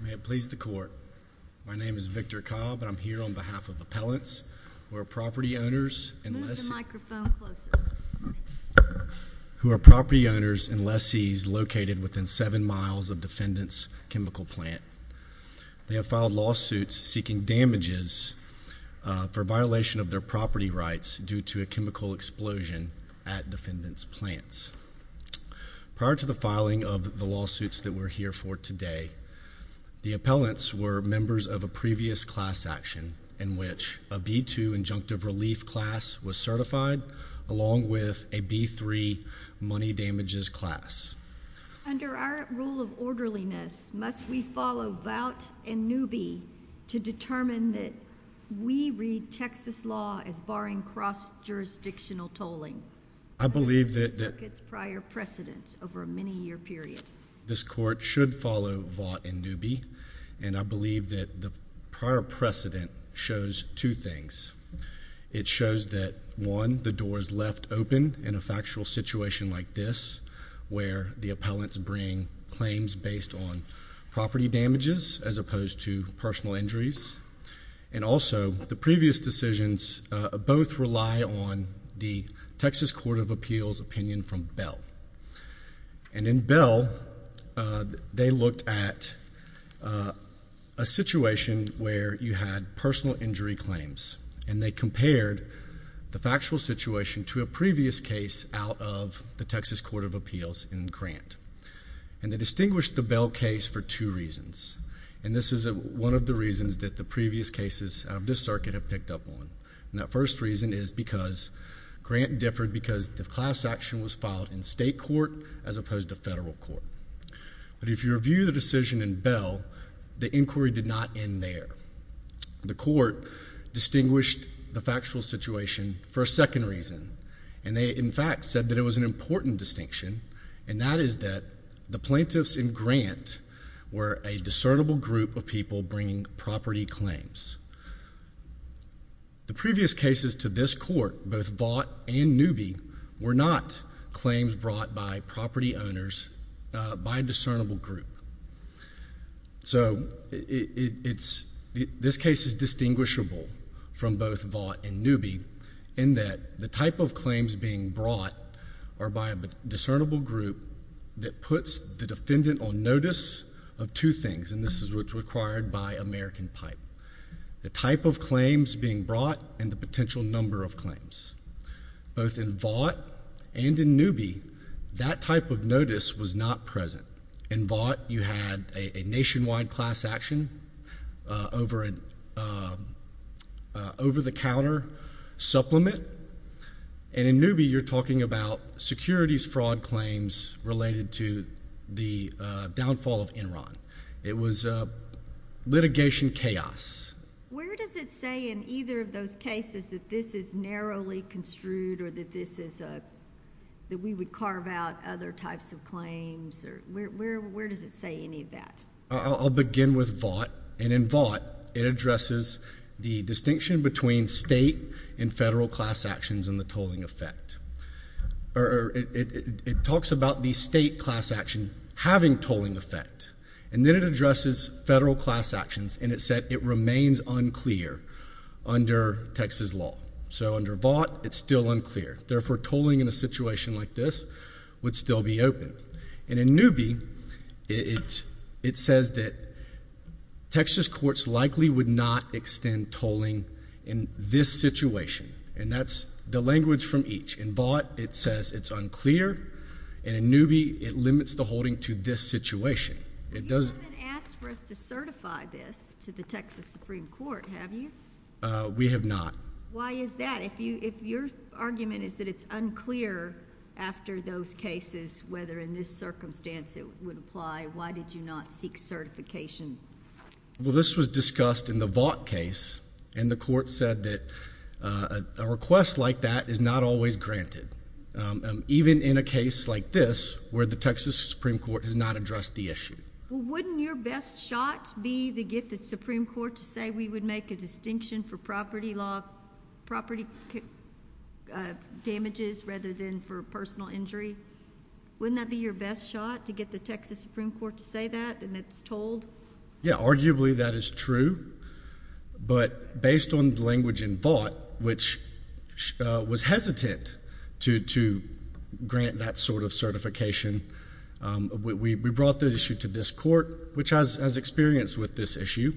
May it please the court. My name is Victor Cobb and I'm here on behalf of appellants who are property owners and lessees located within seven miles of defendants chemical plant. They have filed lawsuits seeking damages for violation of their property rights due to a chemical explosion at defendants plants. Prior to the filing of the lawsuits that we're here for today the appellants were members of a previous class action in which a B-2 injunctive relief class was certified along with a B-3 money damages class. Under our rule of orderliness must we follow Vought and Newby to determine that we read Texas law as barring cross-jurisdictional tolling. I believe that prior precedence over a many-year period. This court should follow Vought and Newby and I believe that the prior precedent shows two things. It shows that one the doors left open in a factual situation like this where the appellants bring claims based on property damages as opposed to personal injuries and also the previous decisions both rely on the Texas Court of Appeals opinion from Bell and in Bell they looked at a situation where you had personal injury claims and they compared the factual situation to a previous case out of the Texas Court of Appeals in Grant and they distinguished the Bell case for two reasons and this is one of the reasons that the previous cases of this circuit have picked up on. The first reason is because Grant differed because the class action was filed in state court as opposed to federal court. But if you review the decision in Bell the inquiry did not end there. The court distinguished the factual situation for a second reason and they in fact said that it was an important distinction and that is that the plaintiffs in Grant were a discernible group of people bringing property claims. The previous cases to this court both Vought and Newby were not claims brought by property owners by a discernible group. So it's this case is distinguishable from both Vought and Newby in that the type of claims being brought are by a discernible group that puts the defendant on notice of two things and this is what's required by American Pipe. The type of claims being brought and the potential number of claims. Both in Vought and in Newby that type of notice was not present. In Vought you had a nationwide class action over an over-the-counter supplement and in Newby you're talking about securities fraud claims related to the downfall of Enron. It was litigation chaos. Where does it say in either of those cases that this is narrowly construed or that this is a that we would carve out other types of claims or where does it say any of that? I'll begin with Vought and in Vought it addresses the distinction between state and federal class actions and the tolling effect or it talks about the state class action having tolling effect and then it addresses federal class actions and it said it remains unclear under Texas law. So under Vought it's still unclear. Therefore tolling in a situation like this would still be open and in Newby it it says that Texas courts likely would not extend tolling in this situation and that's the language from each. In Vought it says it's unclear and in Newby it limits the holding to this situation. You haven't asked for us to certify this to the Texas Supreme Court, have you? We have not. Why is that? If your argument is that it's unclear after those cases whether in this circumstance it would apply, why did you not seek certification? Well this was discussed in the Vought case and the court said that a request like that is not always granted. Even in a case like this where the Texas Supreme Court has not addressed the issue. Wouldn't your best shot be to get the Supreme Court to say we would make a distinction for property law property damages rather than for personal injury? Wouldn't that be your best shot to get the Texas Supreme Court to say that and that's tolled? Yeah In Vought, which was hesitant to grant that sort of certification, we brought the issue to this court which has experience with this issue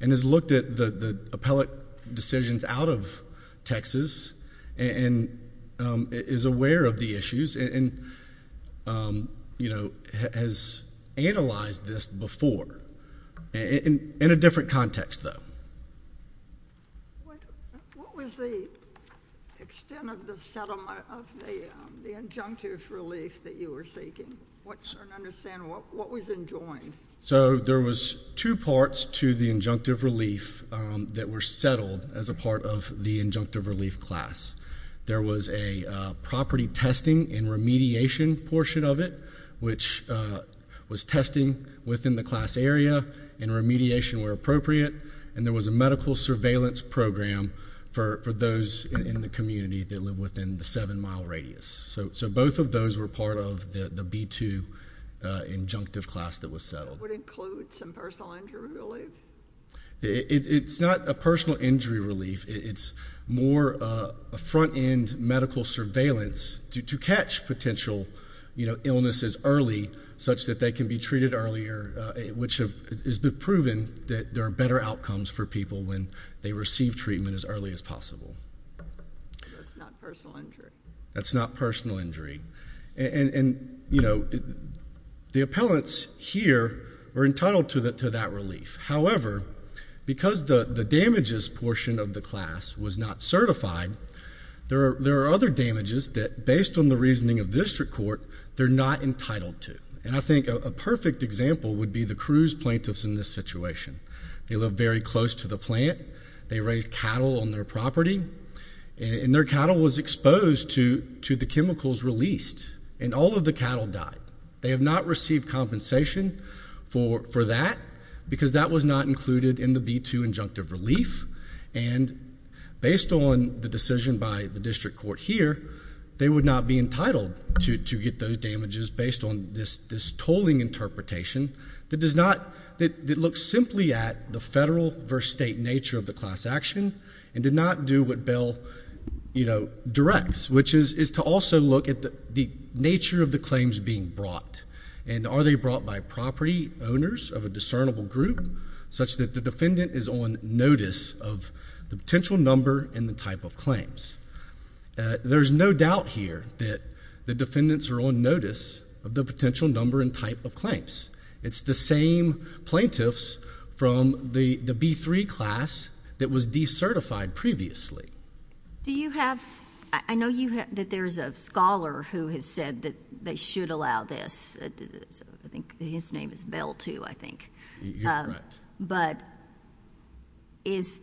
and has looked at the appellate decisions out of Texas and is aware of the issues and you know has analyzed this before in a different context though. What was the extent of the injunctive relief that you were seeking? I don't understand, what was enjoined? So there was two parts to the injunctive relief that were settled as a part of the injunctive relief class. There was a property testing and remediation portion of it which was testing within the class area and remediation where appropriate and there was a medical surveillance program for those in the community that live within the seven mile radius. So both of those were part of the B-2 injunctive class that was settled. Would it include some personal injury relief? It's not a personal injury relief, it's more a front-end medical surveillance to catch potential illnesses early such that they can be treated earlier, which has been proven that there are better outcomes for people when they receive treatment as early as possible. That's not personal injury? That's not personal injury. And you know the appellants here were entitled to that relief. However, because the damages portion of the class was not certified, there are other damages that based on the reasoning of district court, they're not entitled to. And I think a perfect example would be the Cruz plaintiffs in this situation. They live very close to the plant, they raised cattle on their property and their cattle was exposed to to the chemicals released and all of the cattle died. They have not received compensation for that because that was not included in the B-2 injunctive relief and based on the decision by the district court here, they would not be entitled to get those damages based on this this tolling interpretation that does not, that looks simply at the federal versus state nature of the class action and did not do what Bill, you know, directs which is to also look at the nature of the claims being brought and are they brought by property owners of a discernible group such that the defendant is on notice of the potential number and the type of claims. There's no doubt here that the defendants are on notice of the potential number and type of claims. It's the same plaintiffs from the the B-3 class that was decertified previously. Do you have, I know you have, that there's a scholar who has said that they should allow this. I think his name is Bill, too, I think. You're right. But, is,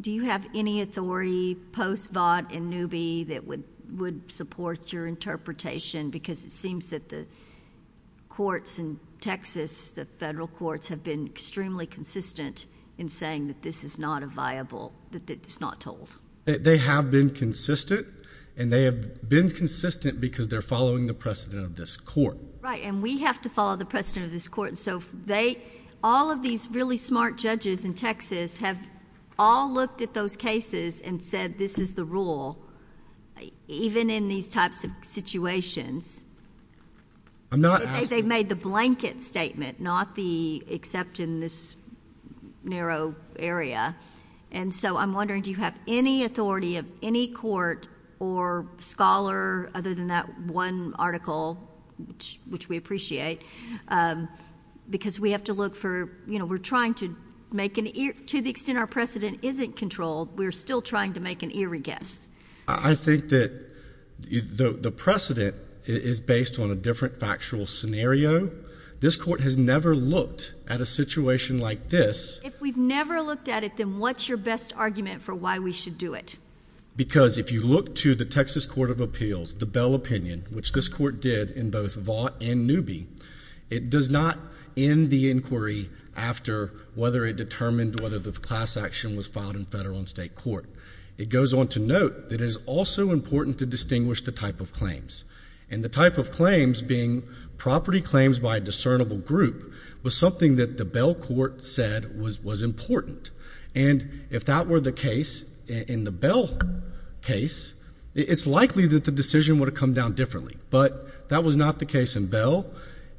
do you have any authority post vaught and newbie that would would support your interpretation because it seems that the courts in Texas, the federal courts, have been extremely consistent in saying that this is not a viable, that it's not tolled. They have been consistent and they have been consistent because they're following the precedent of this court. Right, and we have to follow the precedent of this court. So, they, all of these really smart judges in Texas have all looked at those cases and said this is the rule, even in these types of situations. I'm not... They've made the blanket statement, not the except in this narrow area. And so, I'm wondering, do you have any authority of any court or scholar other than that one article, which we appreciate, because we have to look for, you know, we're trying to make an, to the extent our precedent isn't controlled, we're still trying to make an eerie guess. I think that the precedent is based on a different factual scenario. This court has never looked at a situation like this. If we've never looked at it, then what's your best argument for why we should do it? Because, if you look to the Texas Court of Appeals, the Bell opinion, which this court did in both Vaught and Newby, it does not end the inquiry after whether it determined whether the class action was filed in federal and state court. It goes on to note that it is also important to distinguish the type of claims. And the type of claims being property claims by a discernible group was something that the Bell court said was important. And, if that were the case in the Bell case, it's likely that the decision would have come down differently. But that was not the case in Bell,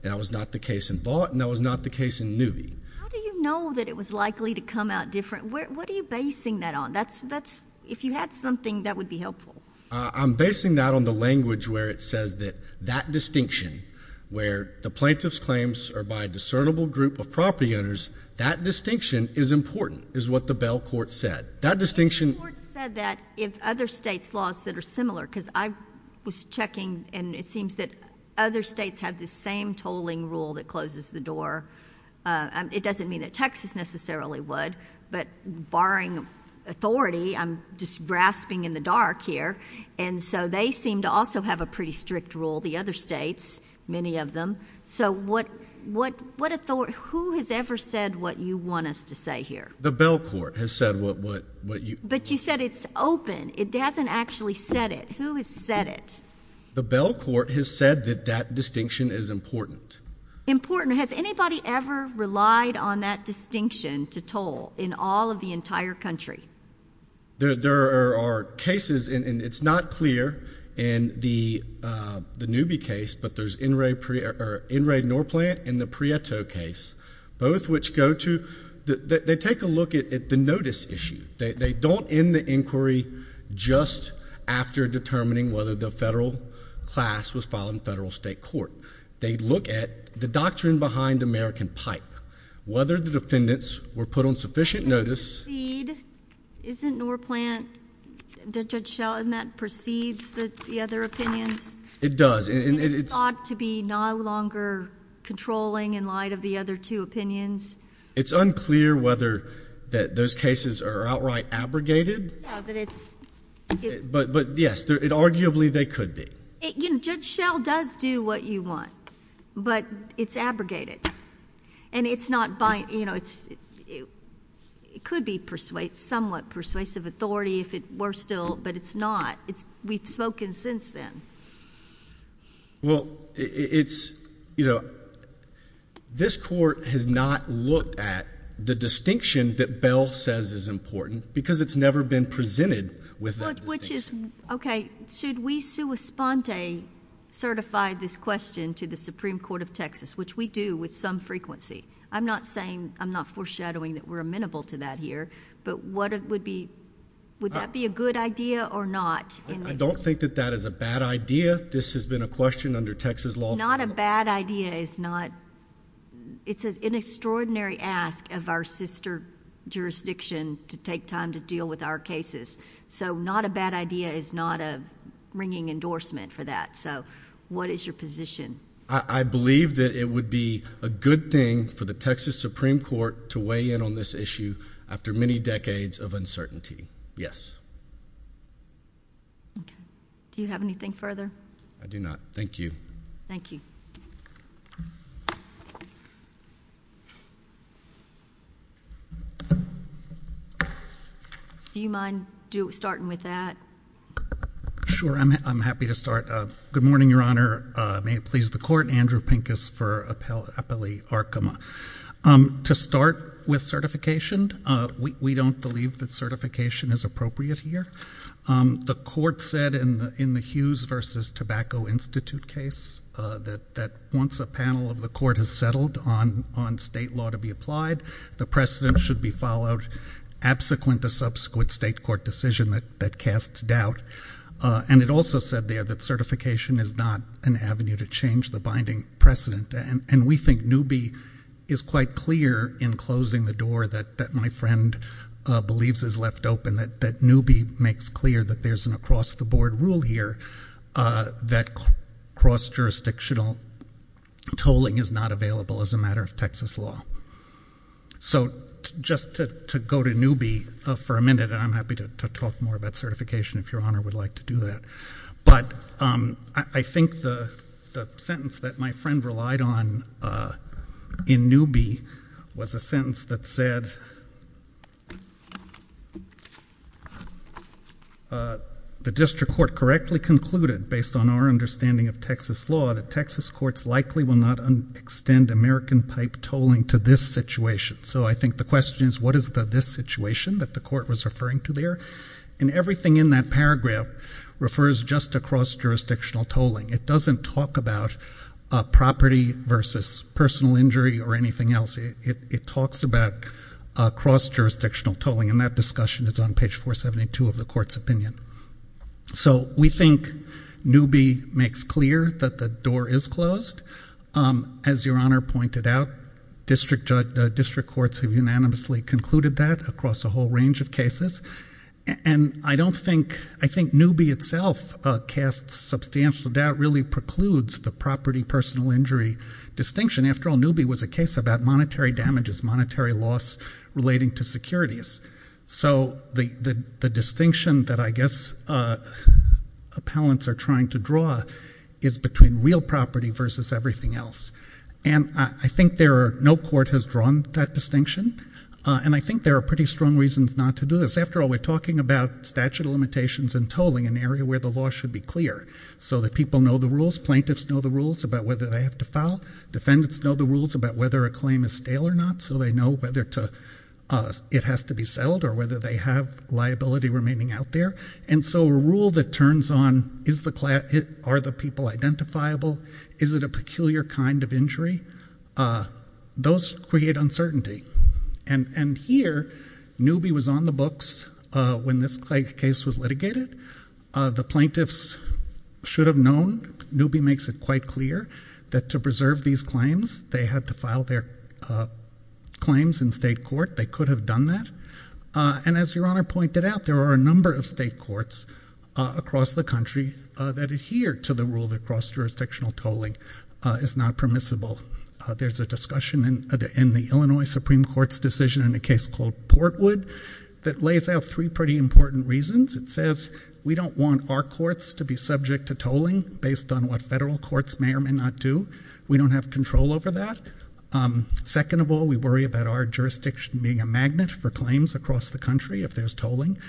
and that was not the case in Vaught, and that was not the case in Newby. How do you know that it was likely to come out different? What are you basing that on? That's, that's, if you had something, that would be helpful. I'm basing that on the language where it says that that distinction, where the plaintiff's claims are by a discernible group of property owners, that distinction is important, is what the Bell court said. That distinction... The court said that if other states' laws that are similar, because I was checking, and it seems that other states have this same tolling rule that closes the door. It doesn't mean that Texas necessarily would, but barring authority, I'm just grasping in the dark here. And so they seem to also have a pretty strict rule, the other states, many of them. So what, what authority, who has ever said what you want us to say here? The Bell court has said what, what, what you... But you said it's open. It hasn't actually said it. Who has said it? The Bell court has said that that distinction is important. Important. Has anybody ever relied on that distinction to toll in all of the entire country? There are cases, and it's not clear in the Newby case, but there's N. Ray Norplant and the Prieto case, both which go to... They take a look at the notice issue. They don't end the inquiry just after determining whether the federal class was filed in federal state court. They look at the doctrine behind American Pipe, whether the defendants were put on sufficient notice... Isn't Norplant, Judge Schell, in that, precedes the other opinions? It does. And it's... It's thought to be no longer controlling in light of the other two opinions. It's unclear whether that those cases are outright abrogated. But it's... But, but yes, it arguably they could be. You know, Judge Schell does do what you want, but it's abrogated. And it's not by, you know, it's, it could be persuade, somewhat persuasive authority if it were still, but it's not. It's, we've spoken since then. Well, it's, you know, this court has not looked at the distinction that Bell says is important because it's never been presented with that distinction. Which is, okay, should we sui sponte certify this question to the Supreme Court of Texas, which we do with some frequency? I'm not saying, I'm not foreshadowing that we're amenable to that here, but what it would be, would that be a good idea or not? I don't think that that is a bad idea. This has been a question under Texas law. Not a bad idea is not... It's an extraordinary ask of our sister jurisdiction to take time to deal with our cases. So not a bad idea is not a ringing endorsement for that. So what is your position? I believe that it would be a good thing for the Texas Supreme Court to weigh in on this issue after many decades of uncertainty. Yes. Do you have anything further? I do not. Thank you. Thank you. Do you mind starting with that? Sure, I'm happy to start. Good morning, Your Honor. May it please the Court. Andrew Pincus for Appellee Arkema. To start with certification, we don't believe that certification is appropriate here. The court said in the Hughes v. Tobacco Institute case that once a panel of the court has settled on state law to be applied, the precedent should be followed absequent to subsequent state court decision that casts doubt. And it also said there that certification is not an avenue to change the binding precedent. And we think Newby is quite clear in closing the door that my friend believes is left open, that Newby makes clear that there's an across-the-board rule here that cross-jurisdictional tolling is not available as a matter of Texas law. So just to go to Newby for a minute, and I'm happy to talk more about certification if Your Honor would like to do that, but I think the sentence that my friend relied on in Newby was a sentence that said, the district court correctly concluded based on our understanding of Texas law that Texas courts likely will not extend American pipe tolling to this situation. So I think the question is what is the this situation that the court was referring to there? And everything in that paragraph refers just to cross-jurisdictional tolling. It doesn't talk about property versus personal injury or anything else. It talks about cross-jurisdictional tolling, and that discussion is on page 472 of the court's opinion. So we think Newby makes clear that the door is closed. As Your Honor pointed out, district courts have unanimously concluded that across a whole range of cases. And I don't think, I think Newby itself casts substantial doubt, really precludes the property personal injury distinction. After all, Newby was a case about monetary damages, monetary loss relating to securities. So the distinction that I guess appellants are trying to draw is between real property versus everything else. And I think there are, no court has drawn that distinction, and I think there are pretty strong reasons not to do this. After all, we're talking about statute of limitations and tolling, an area where the law should be clear, so that people know the rules, plaintiffs know the rules about whether they have to file. Defendants know the rules about whether a claim is stale or not, so they know whether it has to be settled or whether they have liability remaining out there. And so a rule that turns on, are the people identifiable? Is it a peculiar kind of injury? Those create uncertainty. And here, Newby was on the books when this case was litigated. The plaintiffs should have known, Newby makes it quite clear, that to preserve these claims, they had to file their claims in state court. They could have done that. And as Your Honor pointed out, there are a number of state courts across the country that adhere to the rule that cross-jurisdictional tolling is not permissible. There's a discussion in the Illinois Supreme Court's decision in a case called Portwood that lays out three pretty important reasons. It says we don't want our courts to be subject to tolling based on what federal courts may or may not do. We don't have control over that. Second of all, we worry about our jurisdiction being a magnet for claims across the country if there's tolling.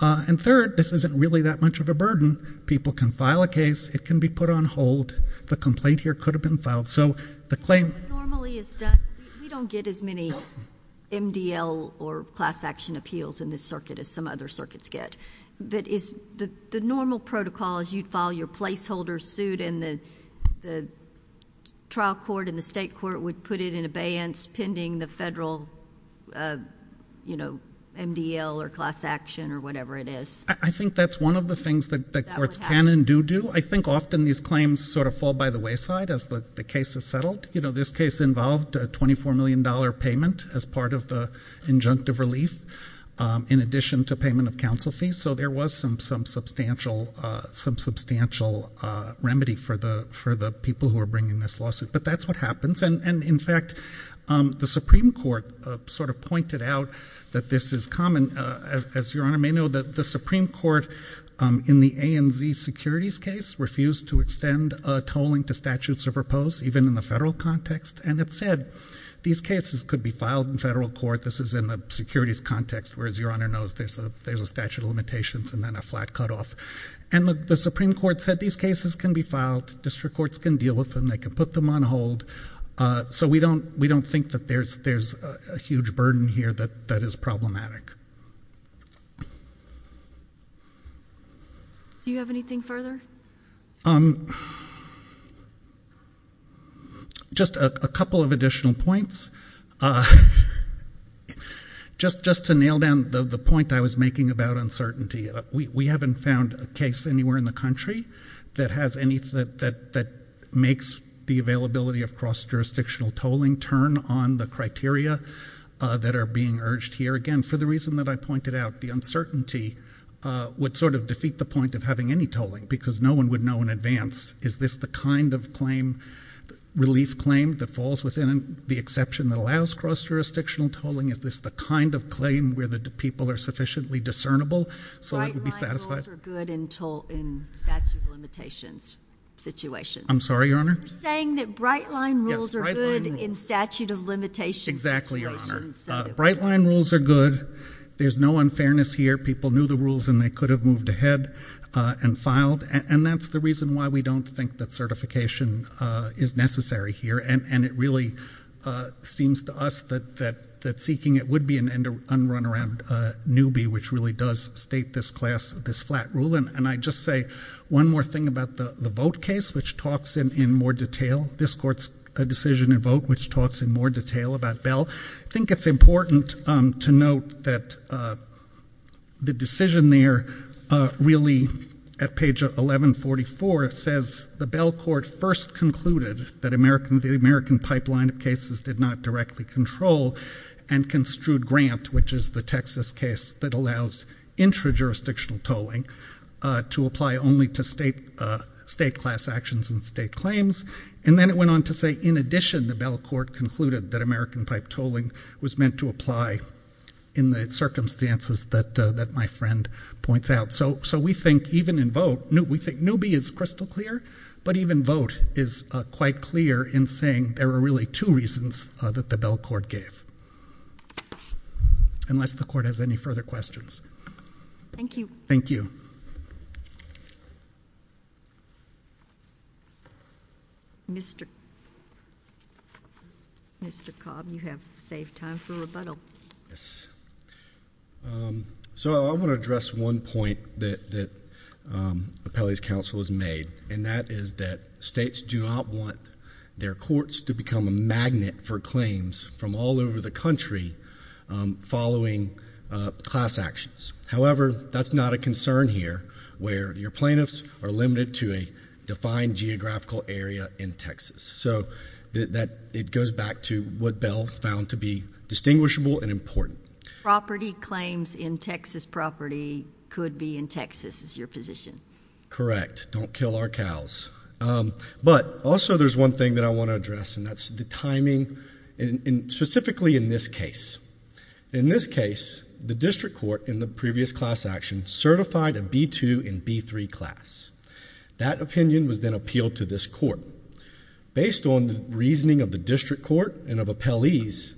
And third, this isn't really that much of a burden. People can file a case, it can be put on hold, the complaint here could have been filed. So the claim normally is done. We don't get as many MDL or class action appeals in this circuit as some other circuits get. But is the normal protocol is you'd file your placeholder suit and the trial court and the state court would put it in abeyance pending the federal, you know, MDL or class action or whatever it is. I think that's one of the things that the courts can and do do. I think often these claims sort of fall by the wayside as the case is settled. You know, this case involved a 24 million dollar payment as part of the injunctive relief in addition to payment of counsel fees. So there was some substantial remedy for the people who are bringing this lawsuit. But that's what happens. And in fact, the Supreme Court sort of pointed out that this is common. As your honor may know, the Supreme Court in the ANZ securities case refused to extend tolling to statutes of repose even in the federal context. And it said these cases could be filed in federal court. This is in the securities context, whereas your honor knows there's a statute of limitations and then a flat cutoff. And the Supreme Court said these cases can be filed. District courts can deal with them. They can put them on hold. So we don't think that there's a huge burden here that is problematic. Do you have anything further? Just a couple of additional points. Just to nail down the point I was making about uncertainty. We haven't found a case anywhere in the country that makes the availability of cross-jurisdictional tolling turn on the criteria that are being urged here. Again, for the reason that I pointed out, the uncertainty would sort of defeat the point of having any tolling. Because no one would know in advance, is this the kind of claim, relief claim, that falls within the exception that allows cross-jurisdictional tolling? Is this the kind of claim where the people are sufficiently discernible so it would be right. So the straight line rules are good. There's no unfairness here. People knew the rules and they could have moved ahead and filed. And that's the reason why we don't think that certification is necessary here. And it really seems to us that seeking it would be an unrunaround newbie, which really does state this class, this flat rule. And I'd just say one more thing about the vote case, which talks in more detail. This court's decision to vote, which talks in more detail about Bell. I think it's important to note that the decision there really, at page 1144, says the Bell Court first concluded that the American pipeline of cases did not directly control and construed Grant, which is the Texas case that allows intra-jurisdictional tolling to apply only to state class actions and state claims. And then it went on to say, in addition, the Bell Court concluded that American pipe tolling was meant to apply in the circumstances that my friend points out. So we think even in vote, we think newbie is crystal clear, but even vote is quite clear in saying there are really two reasons that the Bell Court gave. Unless the court has any further questions. Thank you. Thank you. Mr. Cobb, you have saved time for rebuttal. Yes. So I want to address one point that Appellee's counsel has made, and that is that states do not want their courts to become a magnet for claims from all over the country following class actions. However, that's not a concern here, where your plaintiffs are limited to a defined geographical area in Texas. So it goes back to what Bell found to be distinguishable and important. Property claims in Texas property could be in Texas, is your position. Correct. Don't kill our cows. But also there's one thing that I want to address, and that's the timing, and specifically in this case. In this case, the district court in the previous class action certified a B-2 and B-3 class. That opinion was then appealed to this court. Based on the reasoning of the district court and of Appellee's,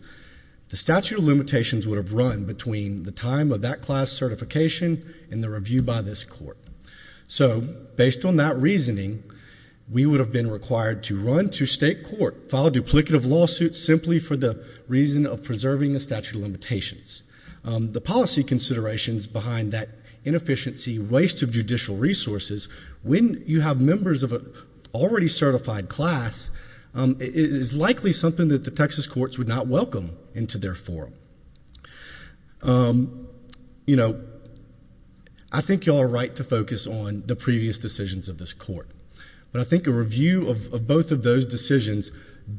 the statute of limitations would have run between the time of that class certification and the review by this court. So based on that reasoning, we would have been required to run to state court, file a duplicative lawsuit simply for the reason of preserving the statute of limitations. The policy considerations behind that inefficiency, waste of judicial resources, when you have members of an already certified class, is likely something that the Texas courts would not welcome into their forum. You know, I think you all have a right to focus on the previous decisions of this court. But I think a review of both of those decisions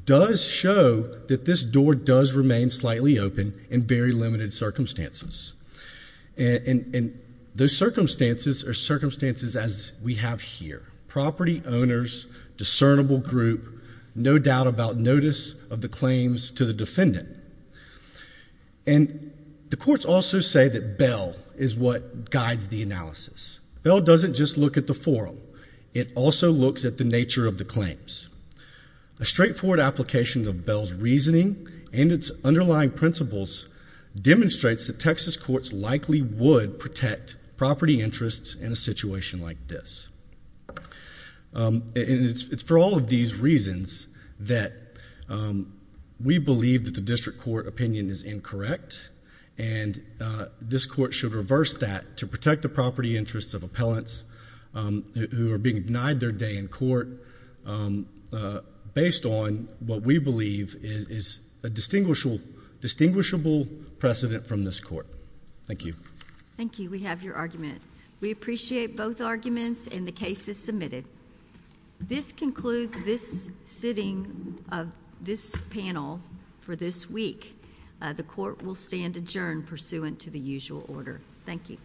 does show that this door does remain slightly open in very limited circumstances. And those circumstances are circumstances as we have here. Property owners, discernible group, no doubt about notice of the claims to the defendant. And the courts also say that Bell is what guides the analysis. Bell doesn't just look at the forum. It also looks at the nature of the claims. A straightforward application of Bell's reasoning and its underlying principles demonstrates that Texas courts likely would protect property interests in a situation like this. And it's for all of these reasons that we believe that the district court opinion is incorrect. And this court should reverse that to protect the property interests of appellants who are being denied their day in court based on what we believe is a distinguishable precedent from this court. Thank you. Thank you. We have your argument. We appreciate both arguments and the cases submitted. This concludes this sitting of this panel for this week. The court will stand adjourned pursuant to the usual order. Thank you.